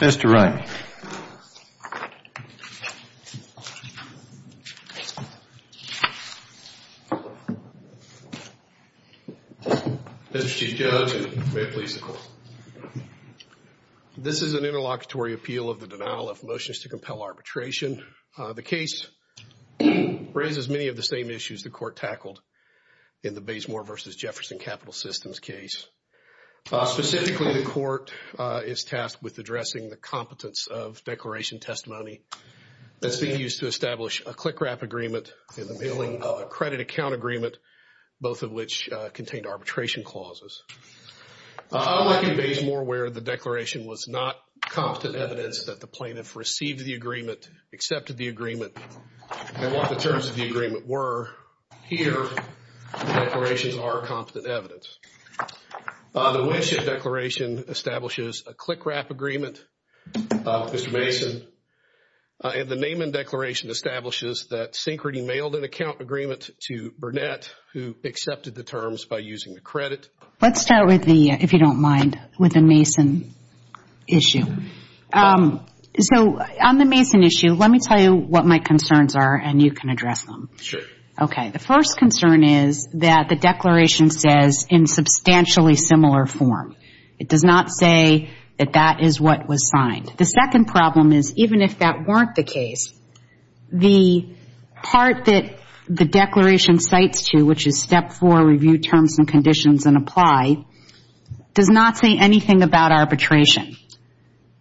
Mr. Wright, this is an interlocutory appeal of the denial of motions to compel arbitration. The case raises many of the same issues the court tackled in the Baysmore v. Jefferson Capital Systems case. Specifically, the court is tasked with addressing the competence of declaration testimony that's being used to establish a click-wrap agreement and the mailing of a credit account agreement, both of which contained arbitration clauses. Unlike in Baysmore where the agreement and what the terms of the agreement were, here the declarations are competent evidence. The Winship Declaration establishes a click-wrap agreement, Mr. Mason, and the Naaman Declaration establishes that Sincrety mailed an account agreement to Burnett who accepted the terms by using the credit. Let's start with the, if you don't mind, Mason issue. On the Mason issue, let me tell you what my concerns are and you can address them. The first concern is that the declaration says, in substantially similar form, it does not say that that is what was signed. The second problem is even if that weren't the case, the part that the declaration cites to, which is step four, review terms and conditions and apply, does not say anything about arbitration.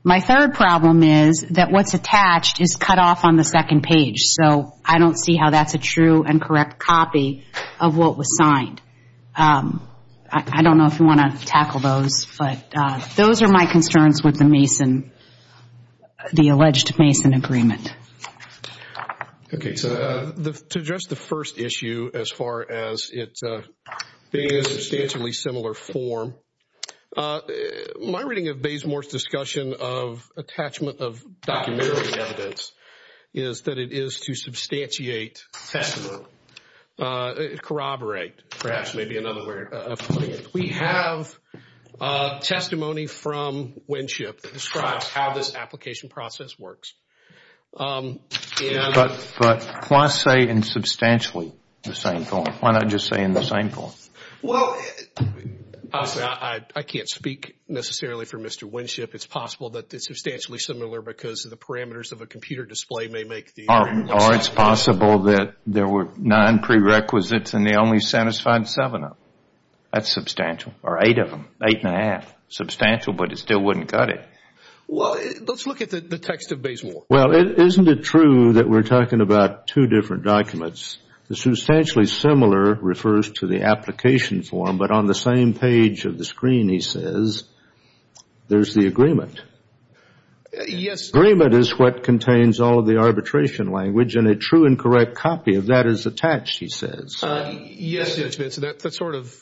My third problem is that what's attached is cut off on the second page, so I don't see how that's a true and correct copy of what was signed. I don't know if you want to tackle those, but those are my concerns with the Mason, the alleged Mason agreement. Okay, so to address the first issue as far as it being in substantially similar form, my reading of Bazemore's discussion of attachment of documentary evidence is that it is to substantiate testimony, corroborate, perhaps maybe another way of putting it. We have testimony from Winship that describes how this application process works. But why say in substantially the same form? Why not just say in the same form? Well, I can't speak necessarily for Mr. Winship. It's possible that it's substantially similar because of the parameters of a computer display may make the argument. Or it's possible that there were nine prerequisites and they only satisfied seven of them. That's substantial, or eight of them, eight and a half. Substantial, but it still wouldn't cut it. Well, let's look at the text of Bazemore. Well, isn't it true that we're talking about two different documents? The substantially similar refers to the application form, but on the same page of the screen, he says, there's the agreement. Yes. Agreement is what contains all of the arbitration language, and a true and correct copy of that is attached, he says. Yes, Judge Benson, that sort of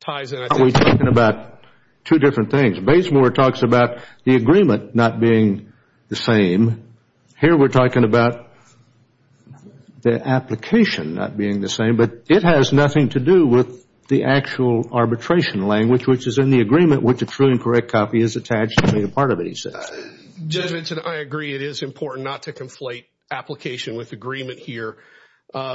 ties in, I think. We're talking about two different things. Bazemore talks about the agreement not being the same. Here we're talking about the application not being the same, but it has nothing to do with the actual arbitration language, which is in the agreement, which a true and correct copy is attached to be a part of it, he says. Judge Benson, I agree it is important not to conflate application with agreement here.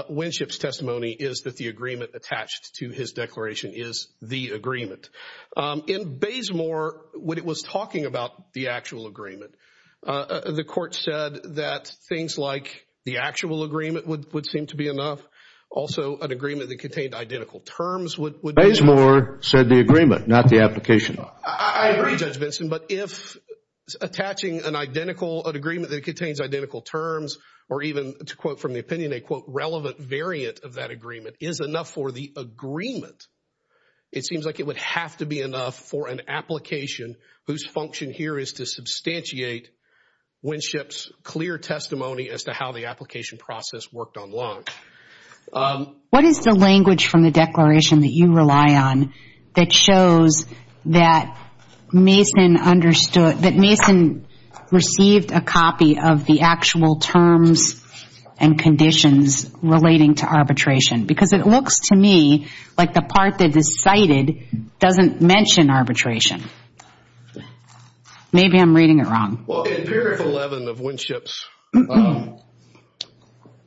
Winship's testimony is that the agreement attached to his declaration is the agreement. In Bazemore, when it was talking about the actual agreement, the court said that things like the actual agreement would seem to be enough. Also, an agreement that contained identical terms would be- Bazemore said the agreement, not the application. I agree, Judge Benson, but if attaching an identical, an agreement that contains identical terms or even, to quote from the opinion, a, quote, relevant variant of that agreement is enough for the agreement, it seems like it would have to be enough for an application whose function here is to substantiate Winship's clear testimony as to how the application process worked online. What is the language from the declaration that you rely on that shows that Mason understood, that Mason received a copy of the actual terms and conditions relating to arbitration? Because it looks to me like the part that is cited doesn't mention arbitration. Maybe I'm reading it wrong. Well, in period 11 of Winship's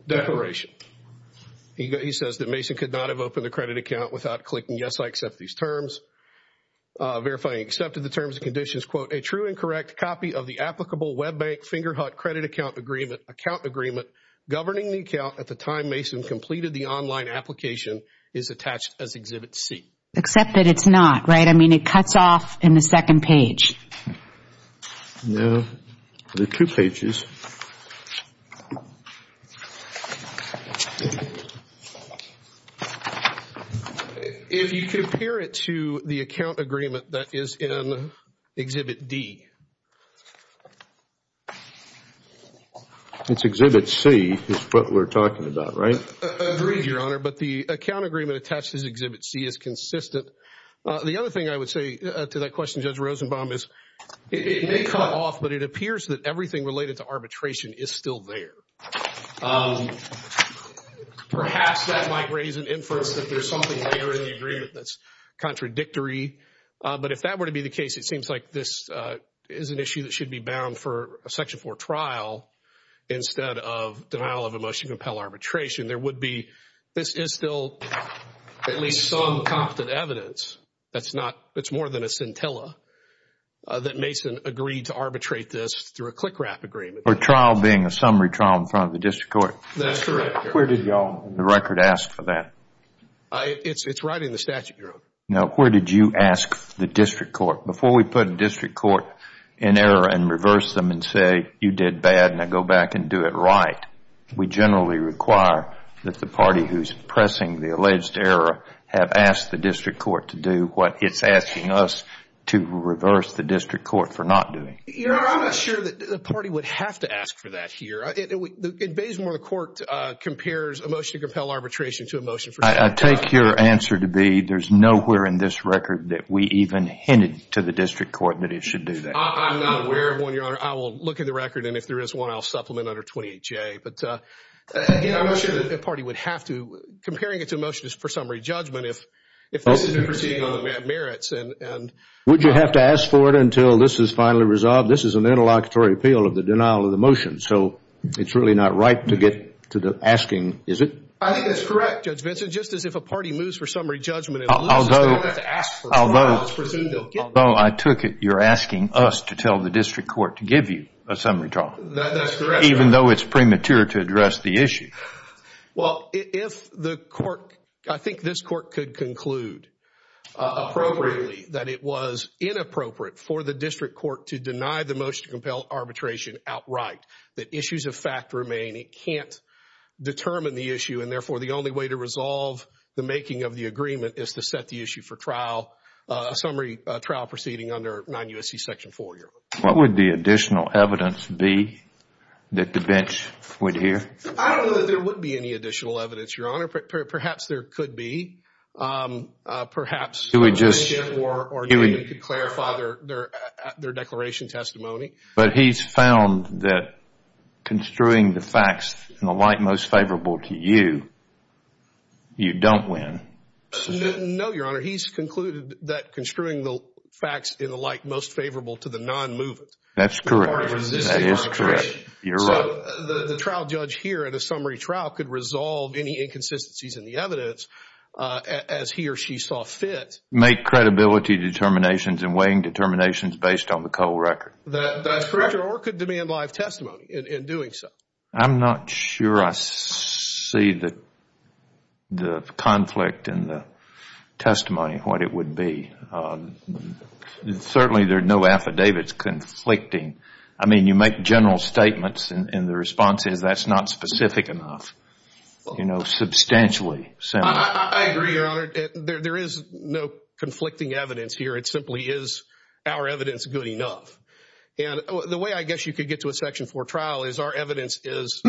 declaration, he says that Mason could not have opened a credit account without clicking, yes, I accept these terms, verifying he accepted the terms and conditions, quote, a true and correct copy of the applicable Web Bank Fingerhut credit account agreement, account agreement governing the account at the time Mason completed the online application is attached as Exhibit C. Except that it's not, right? I mean, it cuts off in the second page. No, there are two pages. If you compare it to the account agreement that is in Exhibit D. It's Exhibit C is what we're talking about, right? Agreed, Your Honor, but the account agreement attached as Exhibit C is consistent. The other thing I would say to that question, Judge Rosenbaum, is it may cut off, but it is still there. Perhaps that might raise an inference that there's something there in the agreement that's contradictory. But if that were to be the case, it seems like this is an issue that should be bound for a Section 4 trial instead of denial of a motion to compel arbitration. There would be, this is still at least some competent evidence that's not, it's more than a scintilla that Mason agreed to arbitrate this through a CLICRAP agreement. A trial being a summary trial in front of the district court? That's correct, Your Honor. Where did y'all on the record ask for that? It's right in the statute, Your Honor. Now, where did you ask the district court? Before we put a district court in error and reverse them and say, you did bad, now go back and do it right, we generally require that the party who's pressing the alleged error have asked the district court to do what it's asking us to reverse the district court for not doing. Your Honor, I'm not sure that the party would have to ask for that here. In Baysmore, the court compares a motion to compel arbitration to a motion for summary trial. I take your answer to be there's nowhere in this record that we even hinted to the district court that it should do that. I'm not aware of one, Your Honor. I will look at the record and if there is one, I'll supplement under 28J. But again, I'm not sure that the party would have to, comparing it to a motion for summary judgment, if this isn't proceeding on the merits. Would you have to ask for it until this is finally resolved? This is an interlocutory appeal of the denial of the motion, so it's really not right to get to the asking, is it? I think that's correct, Judge Vinson. Just as if a party moves for summary judgment and loses, it's not going to have to ask for it. Although I took it you're asking us to tell the district court to give you a summary That's correct. Even though it's premature to address the issue. Well, if the court, I think this court could conclude appropriately that it was inappropriate for the district court to deny the motion to compel arbitration outright, that issues of fact remain. It can't determine the issue and therefore the only way to resolve the making of the agreement is to set the issue for trial, a summary trial proceeding under 9 U.S.C. Section 4, Your Honor. What would the additional evidence be that the bench would hear? I don't know that there would be any additional evidence, Your Honor. Perhaps there could be. Perhaps the bench or you could clarify their declaration testimony. But he's found that construing the facts in the light most favorable to you, you don't win. No, Your Honor. He's concluded that construing the facts in the light most favorable to the non-movement That's correct. Or resisting arbitration. You're right. The trial judge here at a summary trial could resolve any inconsistencies in the evidence as he or she saw fit. Make credibility determinations and weighing determinations based on the Cole record. That's correct. Or could demand live testimony in doing so. I'm not sure I see the conflict in the testimony, what it would be. Certainly there are no affidavits conflicting. I mean, you make general statements and the response is that's not specific enough. You know, substantially. I agree, Your Honor. There is no conflicting evidence here. It simply is our evidence good enough. And the way I guess you could get to a section four trial is our evidence is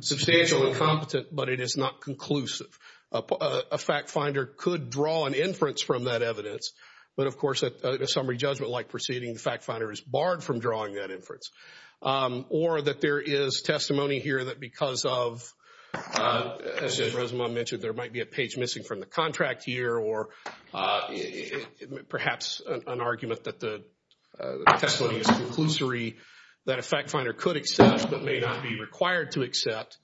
substantial and competent, but it is not conclusive. A fact finder could draw an inference from that evidence. But of course, a summary judgment like proceeding, the fact finder is barred from drawing that inference. Or that there is testimony here that because of, as Resmaa mentioned, there might be a page missing from the contract here. Or perhaps an argument that the testimony is conclusory that a fact finder could accept but may not be required to accept.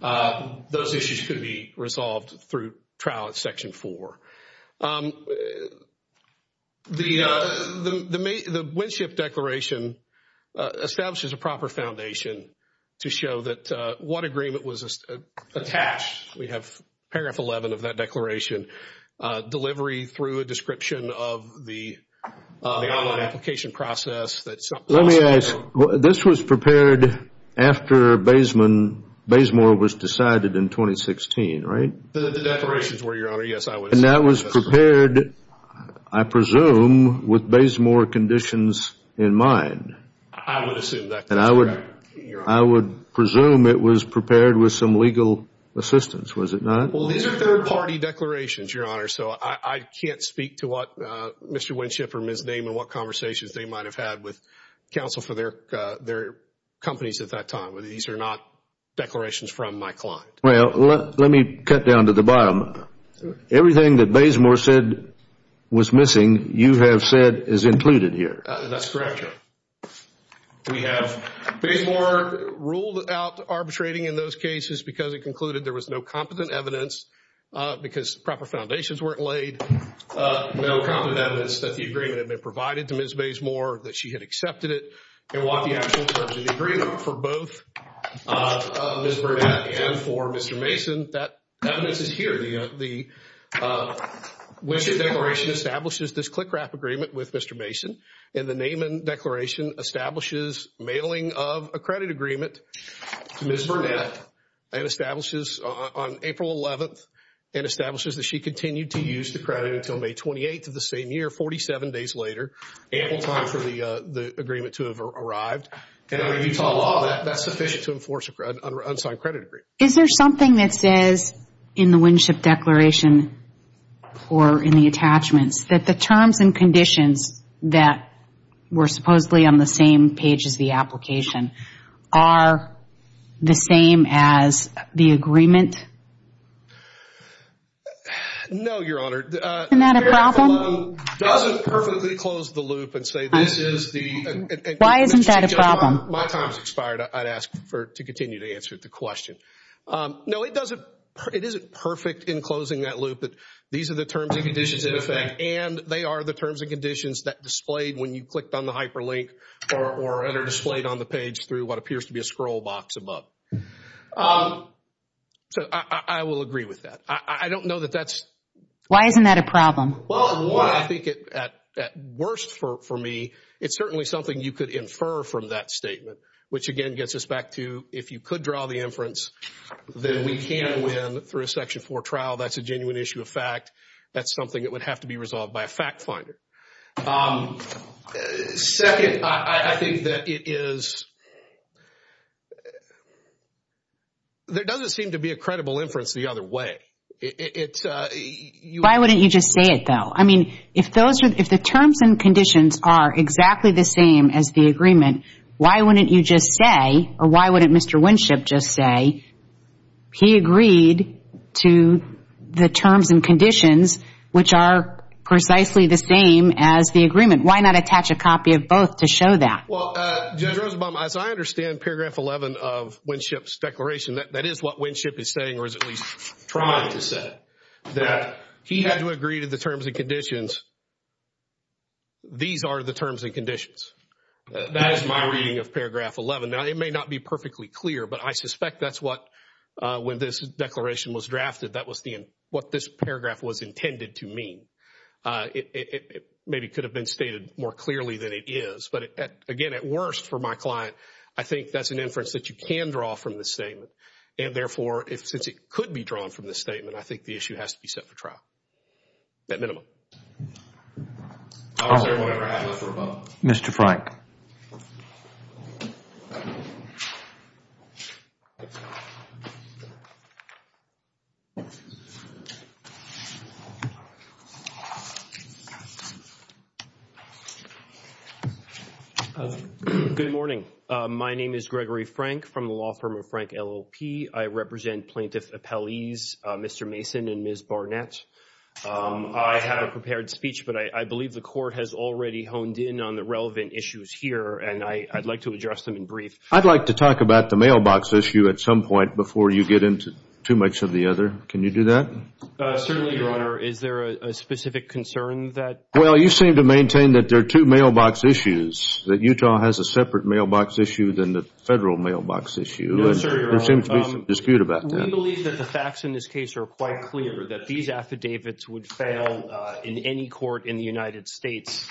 Those issues could be resolved through trial at section four. The Winship Declaration establishes a proper foundation to show that what agreement was attached. We have paragraph 11 of that declaration. Delivery through a description of the online application process. Let me ask, this was prepared after Bazemore was decided in 2016, right? The declarations were, Your Honor. Yes, I would assume. And that was prepared, I presume, with Bazemore conditions in mind. I would assume that. And I would presume it was prepared with some legal assistance, was it not? Well, these are third party declarations, Your Honor. So I can't speak to what Mr. Winship or Ms. Naiman, what conversations they might have had with counsel for their companies at that time. These are not declarations from my client. Well, let me cut down to the bottom. Everything that Bazemore said was missing, you have said is included here. That's correct, Your Honor. We have Bazemore ruled out arbitrating in those cases because it concluded there was no competent evidence because proper foundations weren't laid. No competent evidence that the agreement had been provided to Ms. Bazemore, that she had accepted it. And what the actual terms of the agreement for both Ms. Burnett and for Mr. Mason, that evidence is here. The Winship declaration establishes this CLICRAP agreement with Mr. Mason. And the Naiman declaration establishes mailing of a credit agreement to Ms. Burnett and establishes on April 11th and establishes that she continued to use the credit until May 28th of the same year, 47 days later, ample time for the agreement to have arrived. And under Utah law, that's sufficient to enforce an unsigned credit agreement. Is there something that says in the Winship declaration or in the attachments that the terms and conditions that were supposedly on the same page as the application are the same as the agreement? No, Your Honor. Isn't that a problem? It doesn't perfectly close the loop and say this is the... Why isn't that a problem? My time has expired. I'd ask to continue to answer the question. No, it doesn't. It isn't perfect in closing that loop. But these are the terms and conditions in effect. And they are the terms and conditions that displayed when you clicked on the hyperlink or that are displayed on the page through what appears to be a scroll box above. So I will agree with that. I don't know that that's... Why isn't that a problem? Well, I think at worst for me, it's certainly something you could infer from that statement, which again gets us back to if you could draw the inference, then we can win through a Section 4 trial. That's a genuine issue of fact. That's something that would have to be resolved by a fact finder. Second, I think that it is... There doesn't seem to be a credible inference the other way. Why wouldn't you just say it though? I mean, if the terms and conditions are exactly the same as the agreement, why wouldn't you just say or why wouldn't Mr. Winship just say he agreed to the terms and conditions which are precisely the same as the agreement? Why not attach a copy of both to show that? Well, Judge Rosenbaum, as I understand paragraph 11 of Winship's declaration, that is what Winship is saying or is at least trying to say. That he had to agree to the terms and conditions. These are the terms and conditions. That is my reading of paragraph 11. Now, it may not be perfectly clear, but I suspect that's what, when this declaration was drafted, that was what this paragraph was intended to mean. It maybe could have been stated more clearly than it is. But again, at worst for my client, I think that's an inference that you can draw from this statement. And therefore, since it could be drawn from this statement, I think the issue has to be set for trial. At minimum. I'm sorry, whoever has the floor above. Mr. Frank. Good morning. My name is Gregory Frank from the law firm of Frank LLP. I represent plaintiff appellees Mr. Mason and Ms. Barnett. I have a prepared speech, but I believe the court has already honed in on the relevant issues here. And I'd like to address them in brief. I'd like to talk about the mailbox issue at some point before you get into too much of the other. Can you do that? Certainly, Your Honor. Is there a specific concern that? Well, you seem to maintain that there are two mailbox issues. That Utah has a separate mailbox issue than the federal mailbox issue. No, sir, Your Honor. There seems to be some dispute about that. We believe that the facts in this case are quite clear. That these affidavits would fail in any court in the United States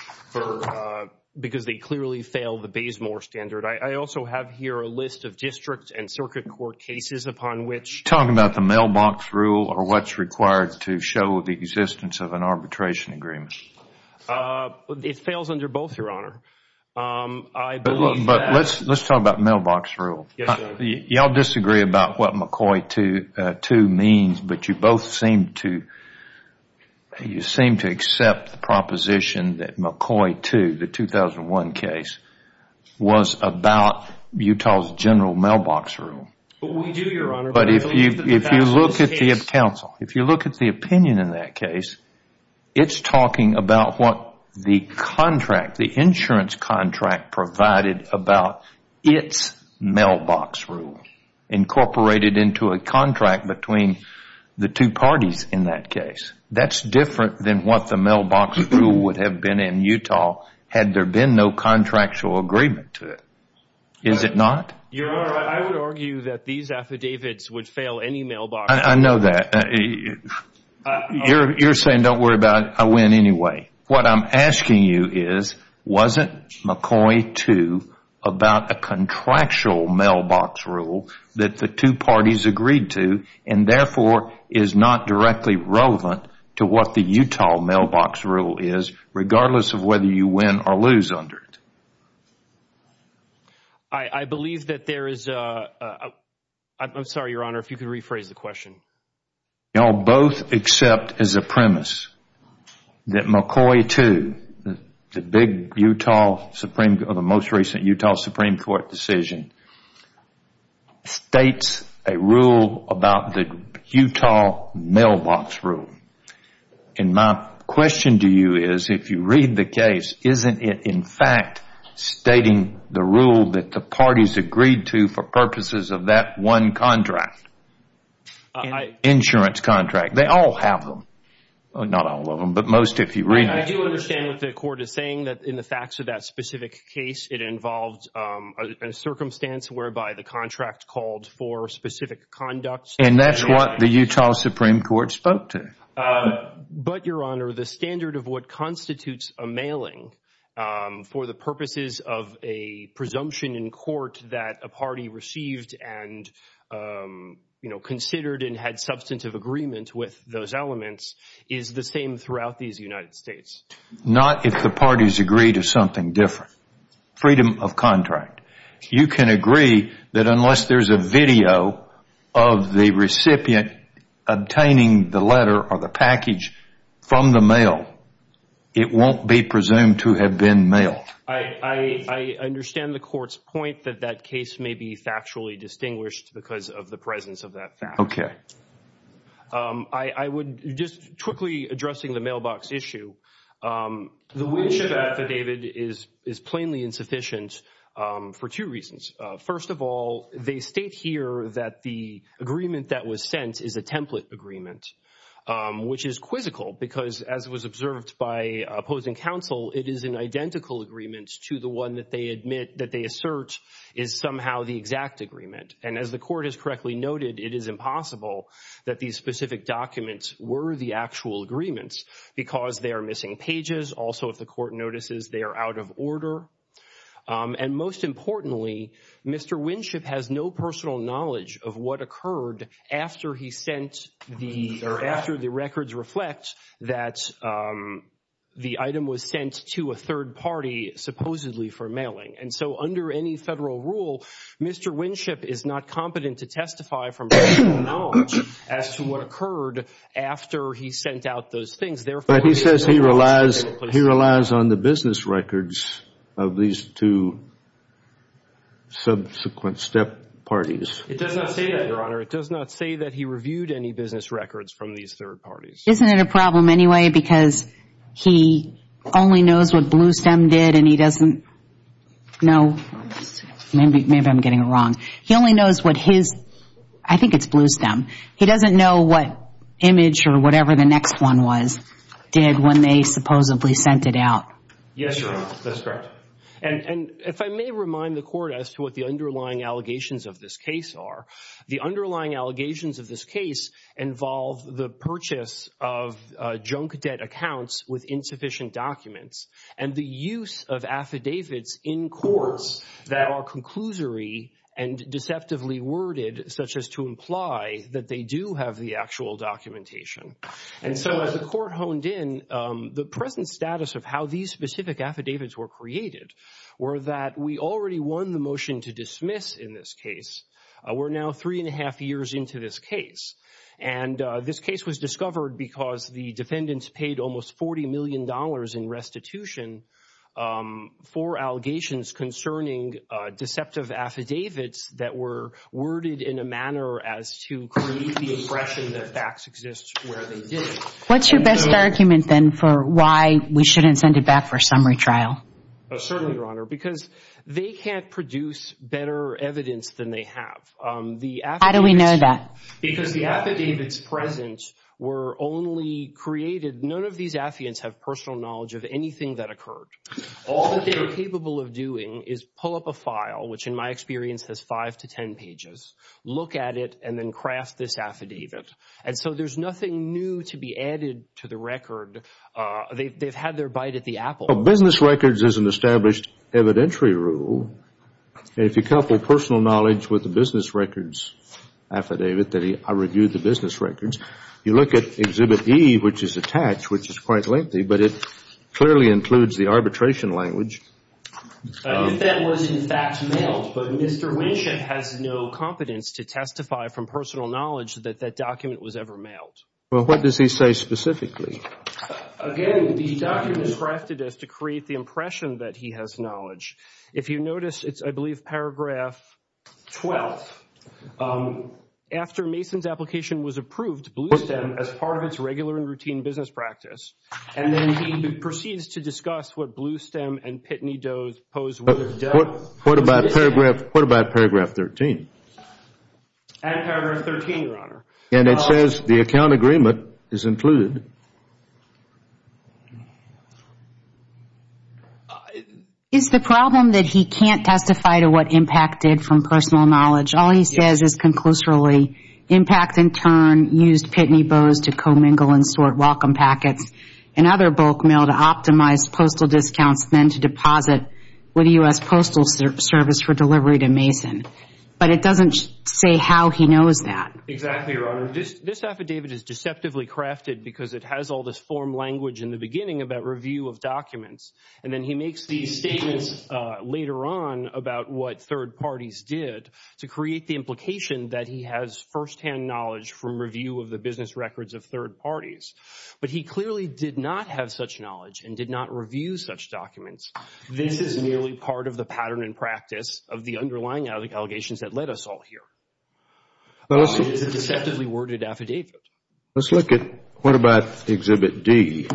because they clearly fail the Bayes-Moore standard. I also have here a list of district and circuit court cases upon which. Talking about the mailbox rule or what's required to show the existence of an arbitration agreement. It fails under both, Your Honor. I believe that. But let's talk about mailbox rule. Yes, sir. Y'all disagree about what McCoy 2 means, but you both seem to accept the proposition that McCoy 2, the 2001 case, was about Utah's general mailbox rule. We do, Your Honor. But if you look at the opinion in that case, it's talking about what the insurance contract provided about its mailbox rule incorporated into a contract between the two parties in that case. That's different than what the mailbox rule would have been in Utah had there been no contractual agreement to it. Is it not? Your Honor, I would argue that these affidavits would fail any mailbox. I know that. You're saying don't worry about it. I win anyway. What I'm asking you is, wasn't McCoy 2 about a contractual mailbox rule that the two parties agreed to and therefore is not directly relevant to what the Utah mailbox rule is, regardless of whether you win or lose under it? I believe that there is a, I'm sorry, Your Honor, if you could rephrase the question. Y'all both accept as a premise that McCoy 2, the big Utah Supreme, or the most recent Utah Supreme Court decision, states a rule about the Utah mailbox rule. And my question to you is, if you read the case, isn't it in fact stating the rule that the parties agreed to for purposes of that one contract? An insurance contract. They all have them. Not all of them, but most if you read it. I do understand what the court is saying, that in the facts of that specific case, it involved a circumstance whereby the contract called for specific conduct. And that's what the Utah Supreme Court spoke to. But, Your Honor, the standard of what constitutes a mailing for the purposes of a presumption in court that a party received and considered and had substantive agreement with those elements is the same throughout these United States. Not if the parties agree to something different. Freedom of contract. You can agree that unless there's a video of the recipient obtaining the letter or the package from the mail, it won't be presumed to have been mailed. I understand the court's point that that case may be factually distinguished because of the presence of that fact. Okay. I would just quickly addressing the mailbox issue. The Winship affidavit is plainly insufficient for two reasons. First of all, they state here that the agreement that was sent is a template agreement, which is quizzical because as was observed by opposing counsel, it is an identical agreement to the one that they admit that they assert is somehow the exact agreement. As the court has correctly noted, it is impossible that these specific documents were the actual agreements because they are missing pages. Also, if the court notices, they are out of order. And most importantly, Mr. Winship has no personal knowledge of what occurred after he sent the, or after the records reflect that And so under any federal rule, Mr. Winship is not competent to testify from personal knowledge as to what occurred after he sent out those things. Therefore, he says he relies on the business records of these two subsequent step parties. It does not say that, Your Honor. It does not say that he reviewed any business records from these third parties. Isn't it a problem anyway, because he only knows what Bluestem did and he doesn't know, maybe I'm getting it wrong. He only knows what his, I think it's Bluestem. He doesn't know what image or whatever the next one was did when they supposedly sent it out. Yes, Your Honor. That's correct. And if I may remind the court as to what the underlying allegations of this case are, the underlying allegations of this case involve the purchase of junk debt accounts with insufficient documents and the use of affidavits in courts that are conclusory and deceptively worded, such as to imply that they do have the actual documentation. And so as the court honed in, the present status of how these specific affidavits were created were that we already won the motion to dismiss in this case. We're now three and a half years into this case. And this case was discovered because the defendants paid almost 40 million dollars in restitution for allegations concerning deceptive affidavits that were worded in a manner as to create the impression that facts exist where they didn't. What's your best argument then for why we shouldn't send it back for a summary trial? Certainly, Your Honor, because they can't produce better evidence than they have. How do we know that? Because the affidavits present were only created, none of these affidavits have personal knowledge of anything that occurred. All that they were capable of doing is pull up a file, which in my experience has five to ten pages, look at it and then craft this affidavit. And so there's nothing new to be added to the record. They've had their bite at the apple. Business records is an established evidentiary rule. If you couple personal knowledge with the business records affidavit that I reviewed the business records, you look at Exhibit E, which is attached, which is quite lengthy, but it clearly includes the arbitration language. If that was in fact mailed, but Mr. Winship has no competence to testify from personal knowledge that that document was ever mailed. Well, what does he say specifically? Again, the document is crafted as to create the impression that he has knowledge. If you notice, it's, I believe, Paragraph 12. After Mason's application was approved, Bluestem as part of its regular and routine business practice, and then he proceeds to discuss what Bluestem and Pitney Doe's pose. What about Paragraph 13? Add Paragraph 13, Your Honor. And it says the account agreement is included. Is the problem that he can't testify to what impact did from personal knowledge? All he says is conclusively, impact in turn used Pitney Bowes to commingle and sort welcome packets and other bulk mail to optimize postal discounts, then to deposit with the U.S. Postal Service for delivery to Mason. But it doesn't say how he knows that. Exactly, Your Honor. It has all this form language in the beginning about review of documents. And then he makes these statements later on about what third parties did to create the implication that he has firsthand knowledge from review of the business records of third parties. But he clearly did not have such knowledge and did not review such documents. This is merely part of the pattern and practice of the underlying allegations that led us all here. It's a deceptively worded affidavit. Let's look at, what about Exhibit D?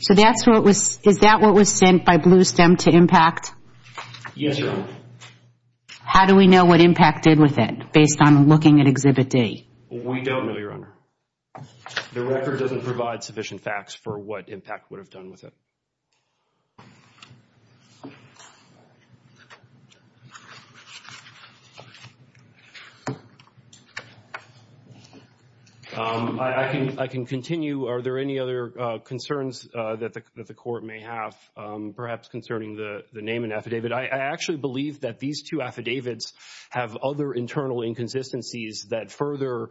So that's what was, is that what was sent by Bluestem to IMPACT? Yes, Your Honor. How do we know what IMPACT did with it based on looking at Exhibit D? We don't know, Your Honor. The record doesn't provide sufficient facts for what IMPACT would have done with it. I can continue. Are there any other concerns that the Court may have perhaps concerning the name and affidavit? I actually believe that these two affidavits have other internal inconsistencies that further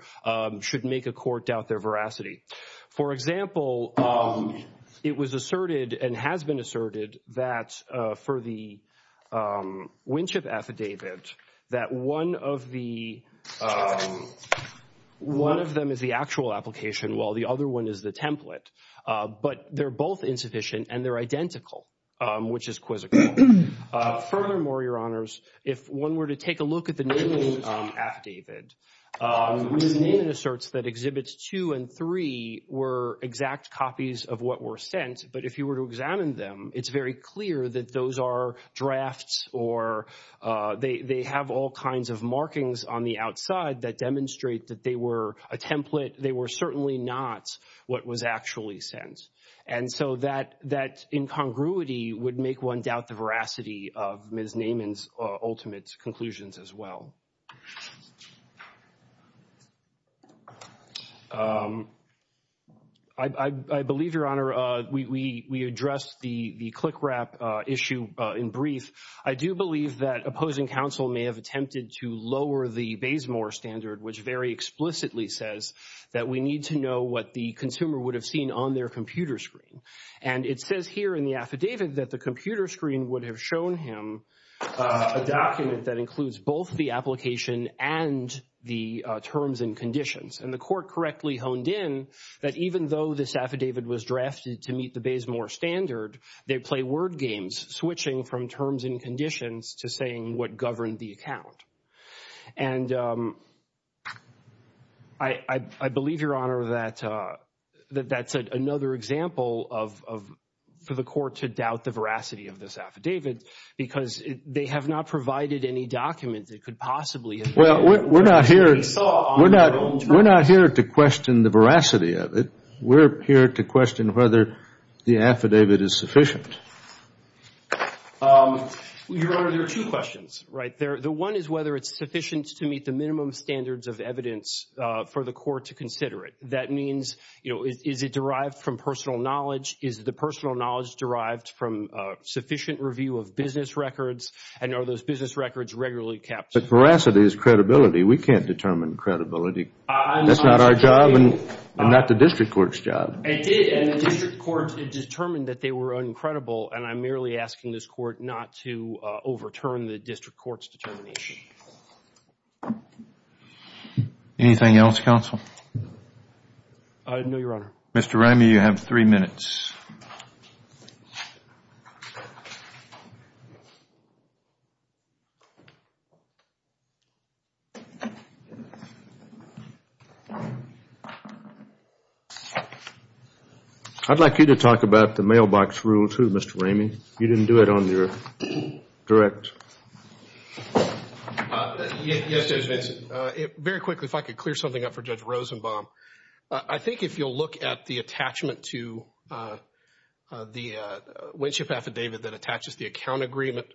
should make a court doubt their veracity. For example, it was asserted and has been asserted that for the Winship affidavit that one of the, one of them is the actual application while the other one is the template. But they're both insufficient and they're identical, which is quizzical. Furthermore, Your Honors, if one were to take a look at the Naman affidavit, Ms. Naman asserts that Exhibits 2 and 3 were exact copies of what were sent. But if you were to examine them, it's very clear that those are drafts or they have all kinds of markings on the outside that demonstrate that they were a template. They were certainly not what was actually sent. And so that incongruity would make one doubt the veracity of Ms. Naman's ultimate conclusions as well. I believe, Your Honor, we addressed the click wrap issue in brief. I do believe that opposing counsel may have attempted to lower the Bayes-Moore standard, which very explicitly says that we need to know what the consumer would have seen on their computer screen. And it says here in the affidavit that the computer screen would have shown him a document that includes both the application and the terms and conditions. And the court correctly honed in that even though this affidavit was drafted to meet the Bayes-Moore standard, they play word games, switching from terms and conditions to saying what governed the account. And I believe, Your Honor, that that's another example for the court to doubt the veracity of this affidavit because they have not provided any document that could possibly have been a document that they saw on their own terms. We're not here to question the veracity of it. We're here to question whether the affidavit is sufficient. Your Honor, there are two questions right there. The one is whether it's sufficient to meet the minimum standards of evidence for the court to consider it. That means, you know, is it derived from personal knowledge? Is the personal knowledge derived from sufficient review of business records? And are those business records regularly kept? But veracity is credibility. We can't determine credibility. That's not our job and not the district court's job. It did. And the district court determined that they were uncredible. And I'm merely asking this court not to overturn the district court's determination. Anything else, counsel? No, Your Honor. Mr. Ramey, you have three minutes. I'd like you to talk about the mailbox rule too, Mr. Ramey. You didn't do it on your direct. Yes, Judge Vinson. Very quickly, if I could clear something up for Judge Rosenbaum. I think if you'll look at the attachment to the Winship Affidavit that attaches the account agreement,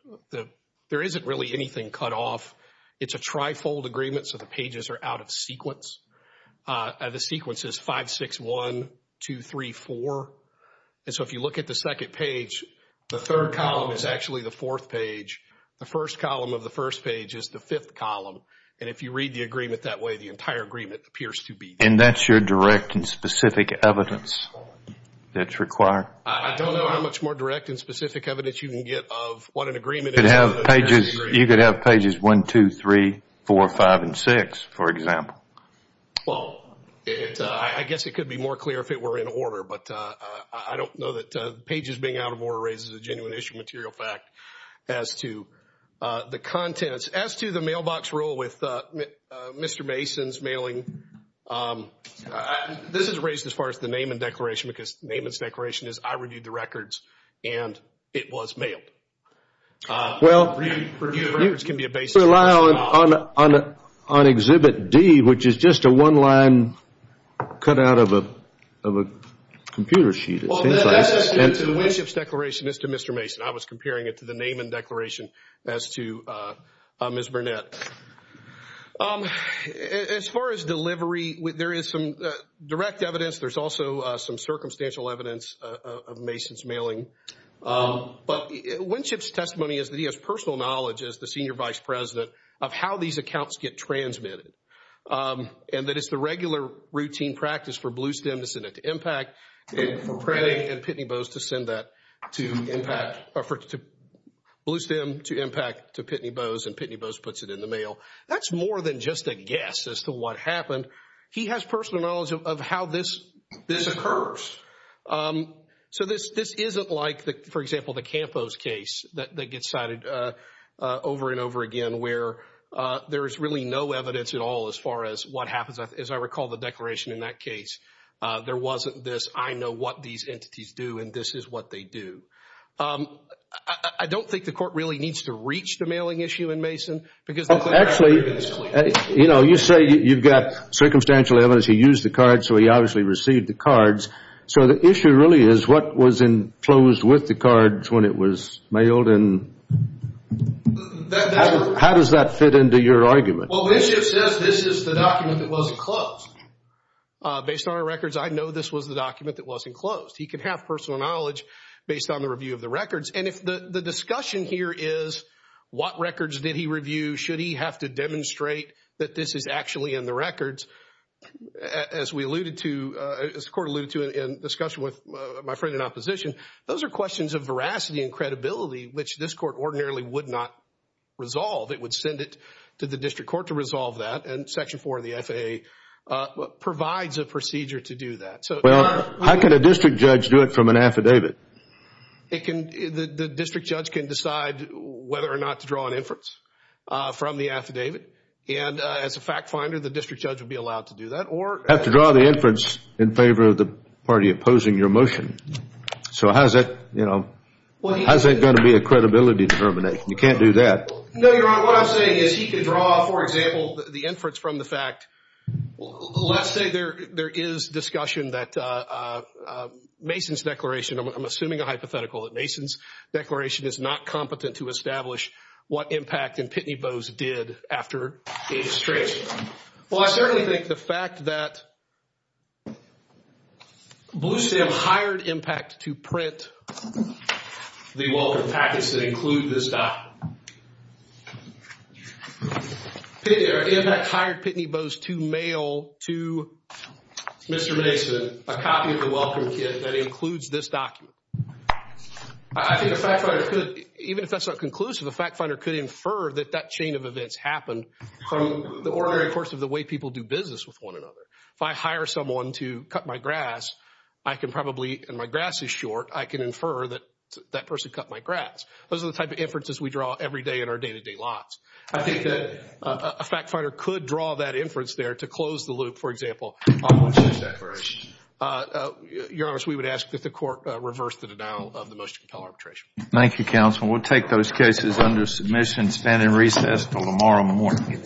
there isn't really anything cut off. It's a trifold agreement. So the pages are out of sequence. The sequence is 5, 6, 1, 2, 3, 4. And so if you look at the second page, the third column is actually the fourth page. The first column of the first page is the fifth column. And if you read the agreement that way, the entire agreement appears to be. And that's your direct and specific evidence that's required? I don't know how much more direct and specific evidence you can get of what an agreement is. You could have pages 1, 2, 3, 4, 5, and 6, for example. Well, I guess it could be more clear if it were in order. But I don't know that pages being out of order raises a genuine issue of material fact as to the contents. As to the mailbox rule with Mr. Mason's mailing, this is raised as far as the Naaman Declaration, because Naaman's Declaration is I reviewed the records and it was mailed. Well, you rely on Exhibit D, which is just a one-line cut out of a computer sheet. Well, that's as to the Winship's Declaration as to Mr. Mason. I was comparing it to the Naaman Declaration as to Ms. Burnett. As far as delivery, there is some direct evidence. There's also some circumstantial evidence of Mason's mailing. But Winship's testimony is that he has personal knowledge, as the Senior Vice President, of how these accounts get transmitted. And that it's the regular routine practice for Bluestem to send it to IMPACT, for Pratt and Pitney Bowes to send that to IMPACT, Bluestem to IMPACT to Pitney Bowes, and Pitney Bowes puts it in the mail. That's more than just a guess as to what happened. He has personal knowledge of how this occurs. So this isn't like, for example, the Campos case that gets cited over and over again, where there is really no evidence at all as far as what happens. As I recall the declaration in that case, there wasn't this, I know what these entities do and this is what they do. I don't think the court really needs to reach the mailing issue in Mason. Well, actually, you know, you say you've got circumstantial evidence. He used the cards, so he obviously received the cards. So the issue really is what was enclosed with the cards when it was mailed and how does that fit into your argument? Well, Bishop says this is the document that wasn't closed. Based on our records, I know this was the document that wasn't closed. He could have personal knowledge based on the review of the records. And if the discussion here is what records did he review? Should he have to demonstrate that this is actually in the records? As we alluded to, as the court alluded to in discussion with my friend in opposition, those are questions of veracity and credibility, which this court ordinarily would not resolve. It would send it to the district court to resolve that. And Section 4 of the FAA provides a procedure to do that. Well, how can a district judge do it from an affidavit? The district judge can decide whether or not to draw an inference from the affidavit. And as a fact finder, the district judge would be allowed to do that or... Have to draw the inference in favor of the party opposing your motion. So how's that, you know, how's that going to be a credibility determination? You can't do that. No, Your Honor, what I'm saying is he could draw, for example, the inference from the fact... Let's say there is discussion that Mason's declaration, I'm assuming a hypothetical, that Mason's declaration is not competent to establish what impact in Pitney Bowes did after Davis Tracy. Well, I certainly think the fact that Bluestem hired IMPACT to print the welcome packets that include this document. And IMPACT hired Pitney Bowes to mail to Mr. Mason a copy of the welcome kit that includes this document. I think a fact finder could, even if that's not conclusive, a fact finder could infer that that chain of events happened from the ordinary course of the way people do business with one another. If I hire someone to cut my grass, I can probably, and my grass is short, I can infer that that person cut my grass. Those are the type of inferences we draw every day in our day-to-day lives. I think that a fact finder could draw that inference there to close the loop, for example. Your Honor, we would ask that the court reverse the denial of the motion to compel arbitration. Thank you, counsel. We'll take those cases under submission, stand in recess until tomorrow morning.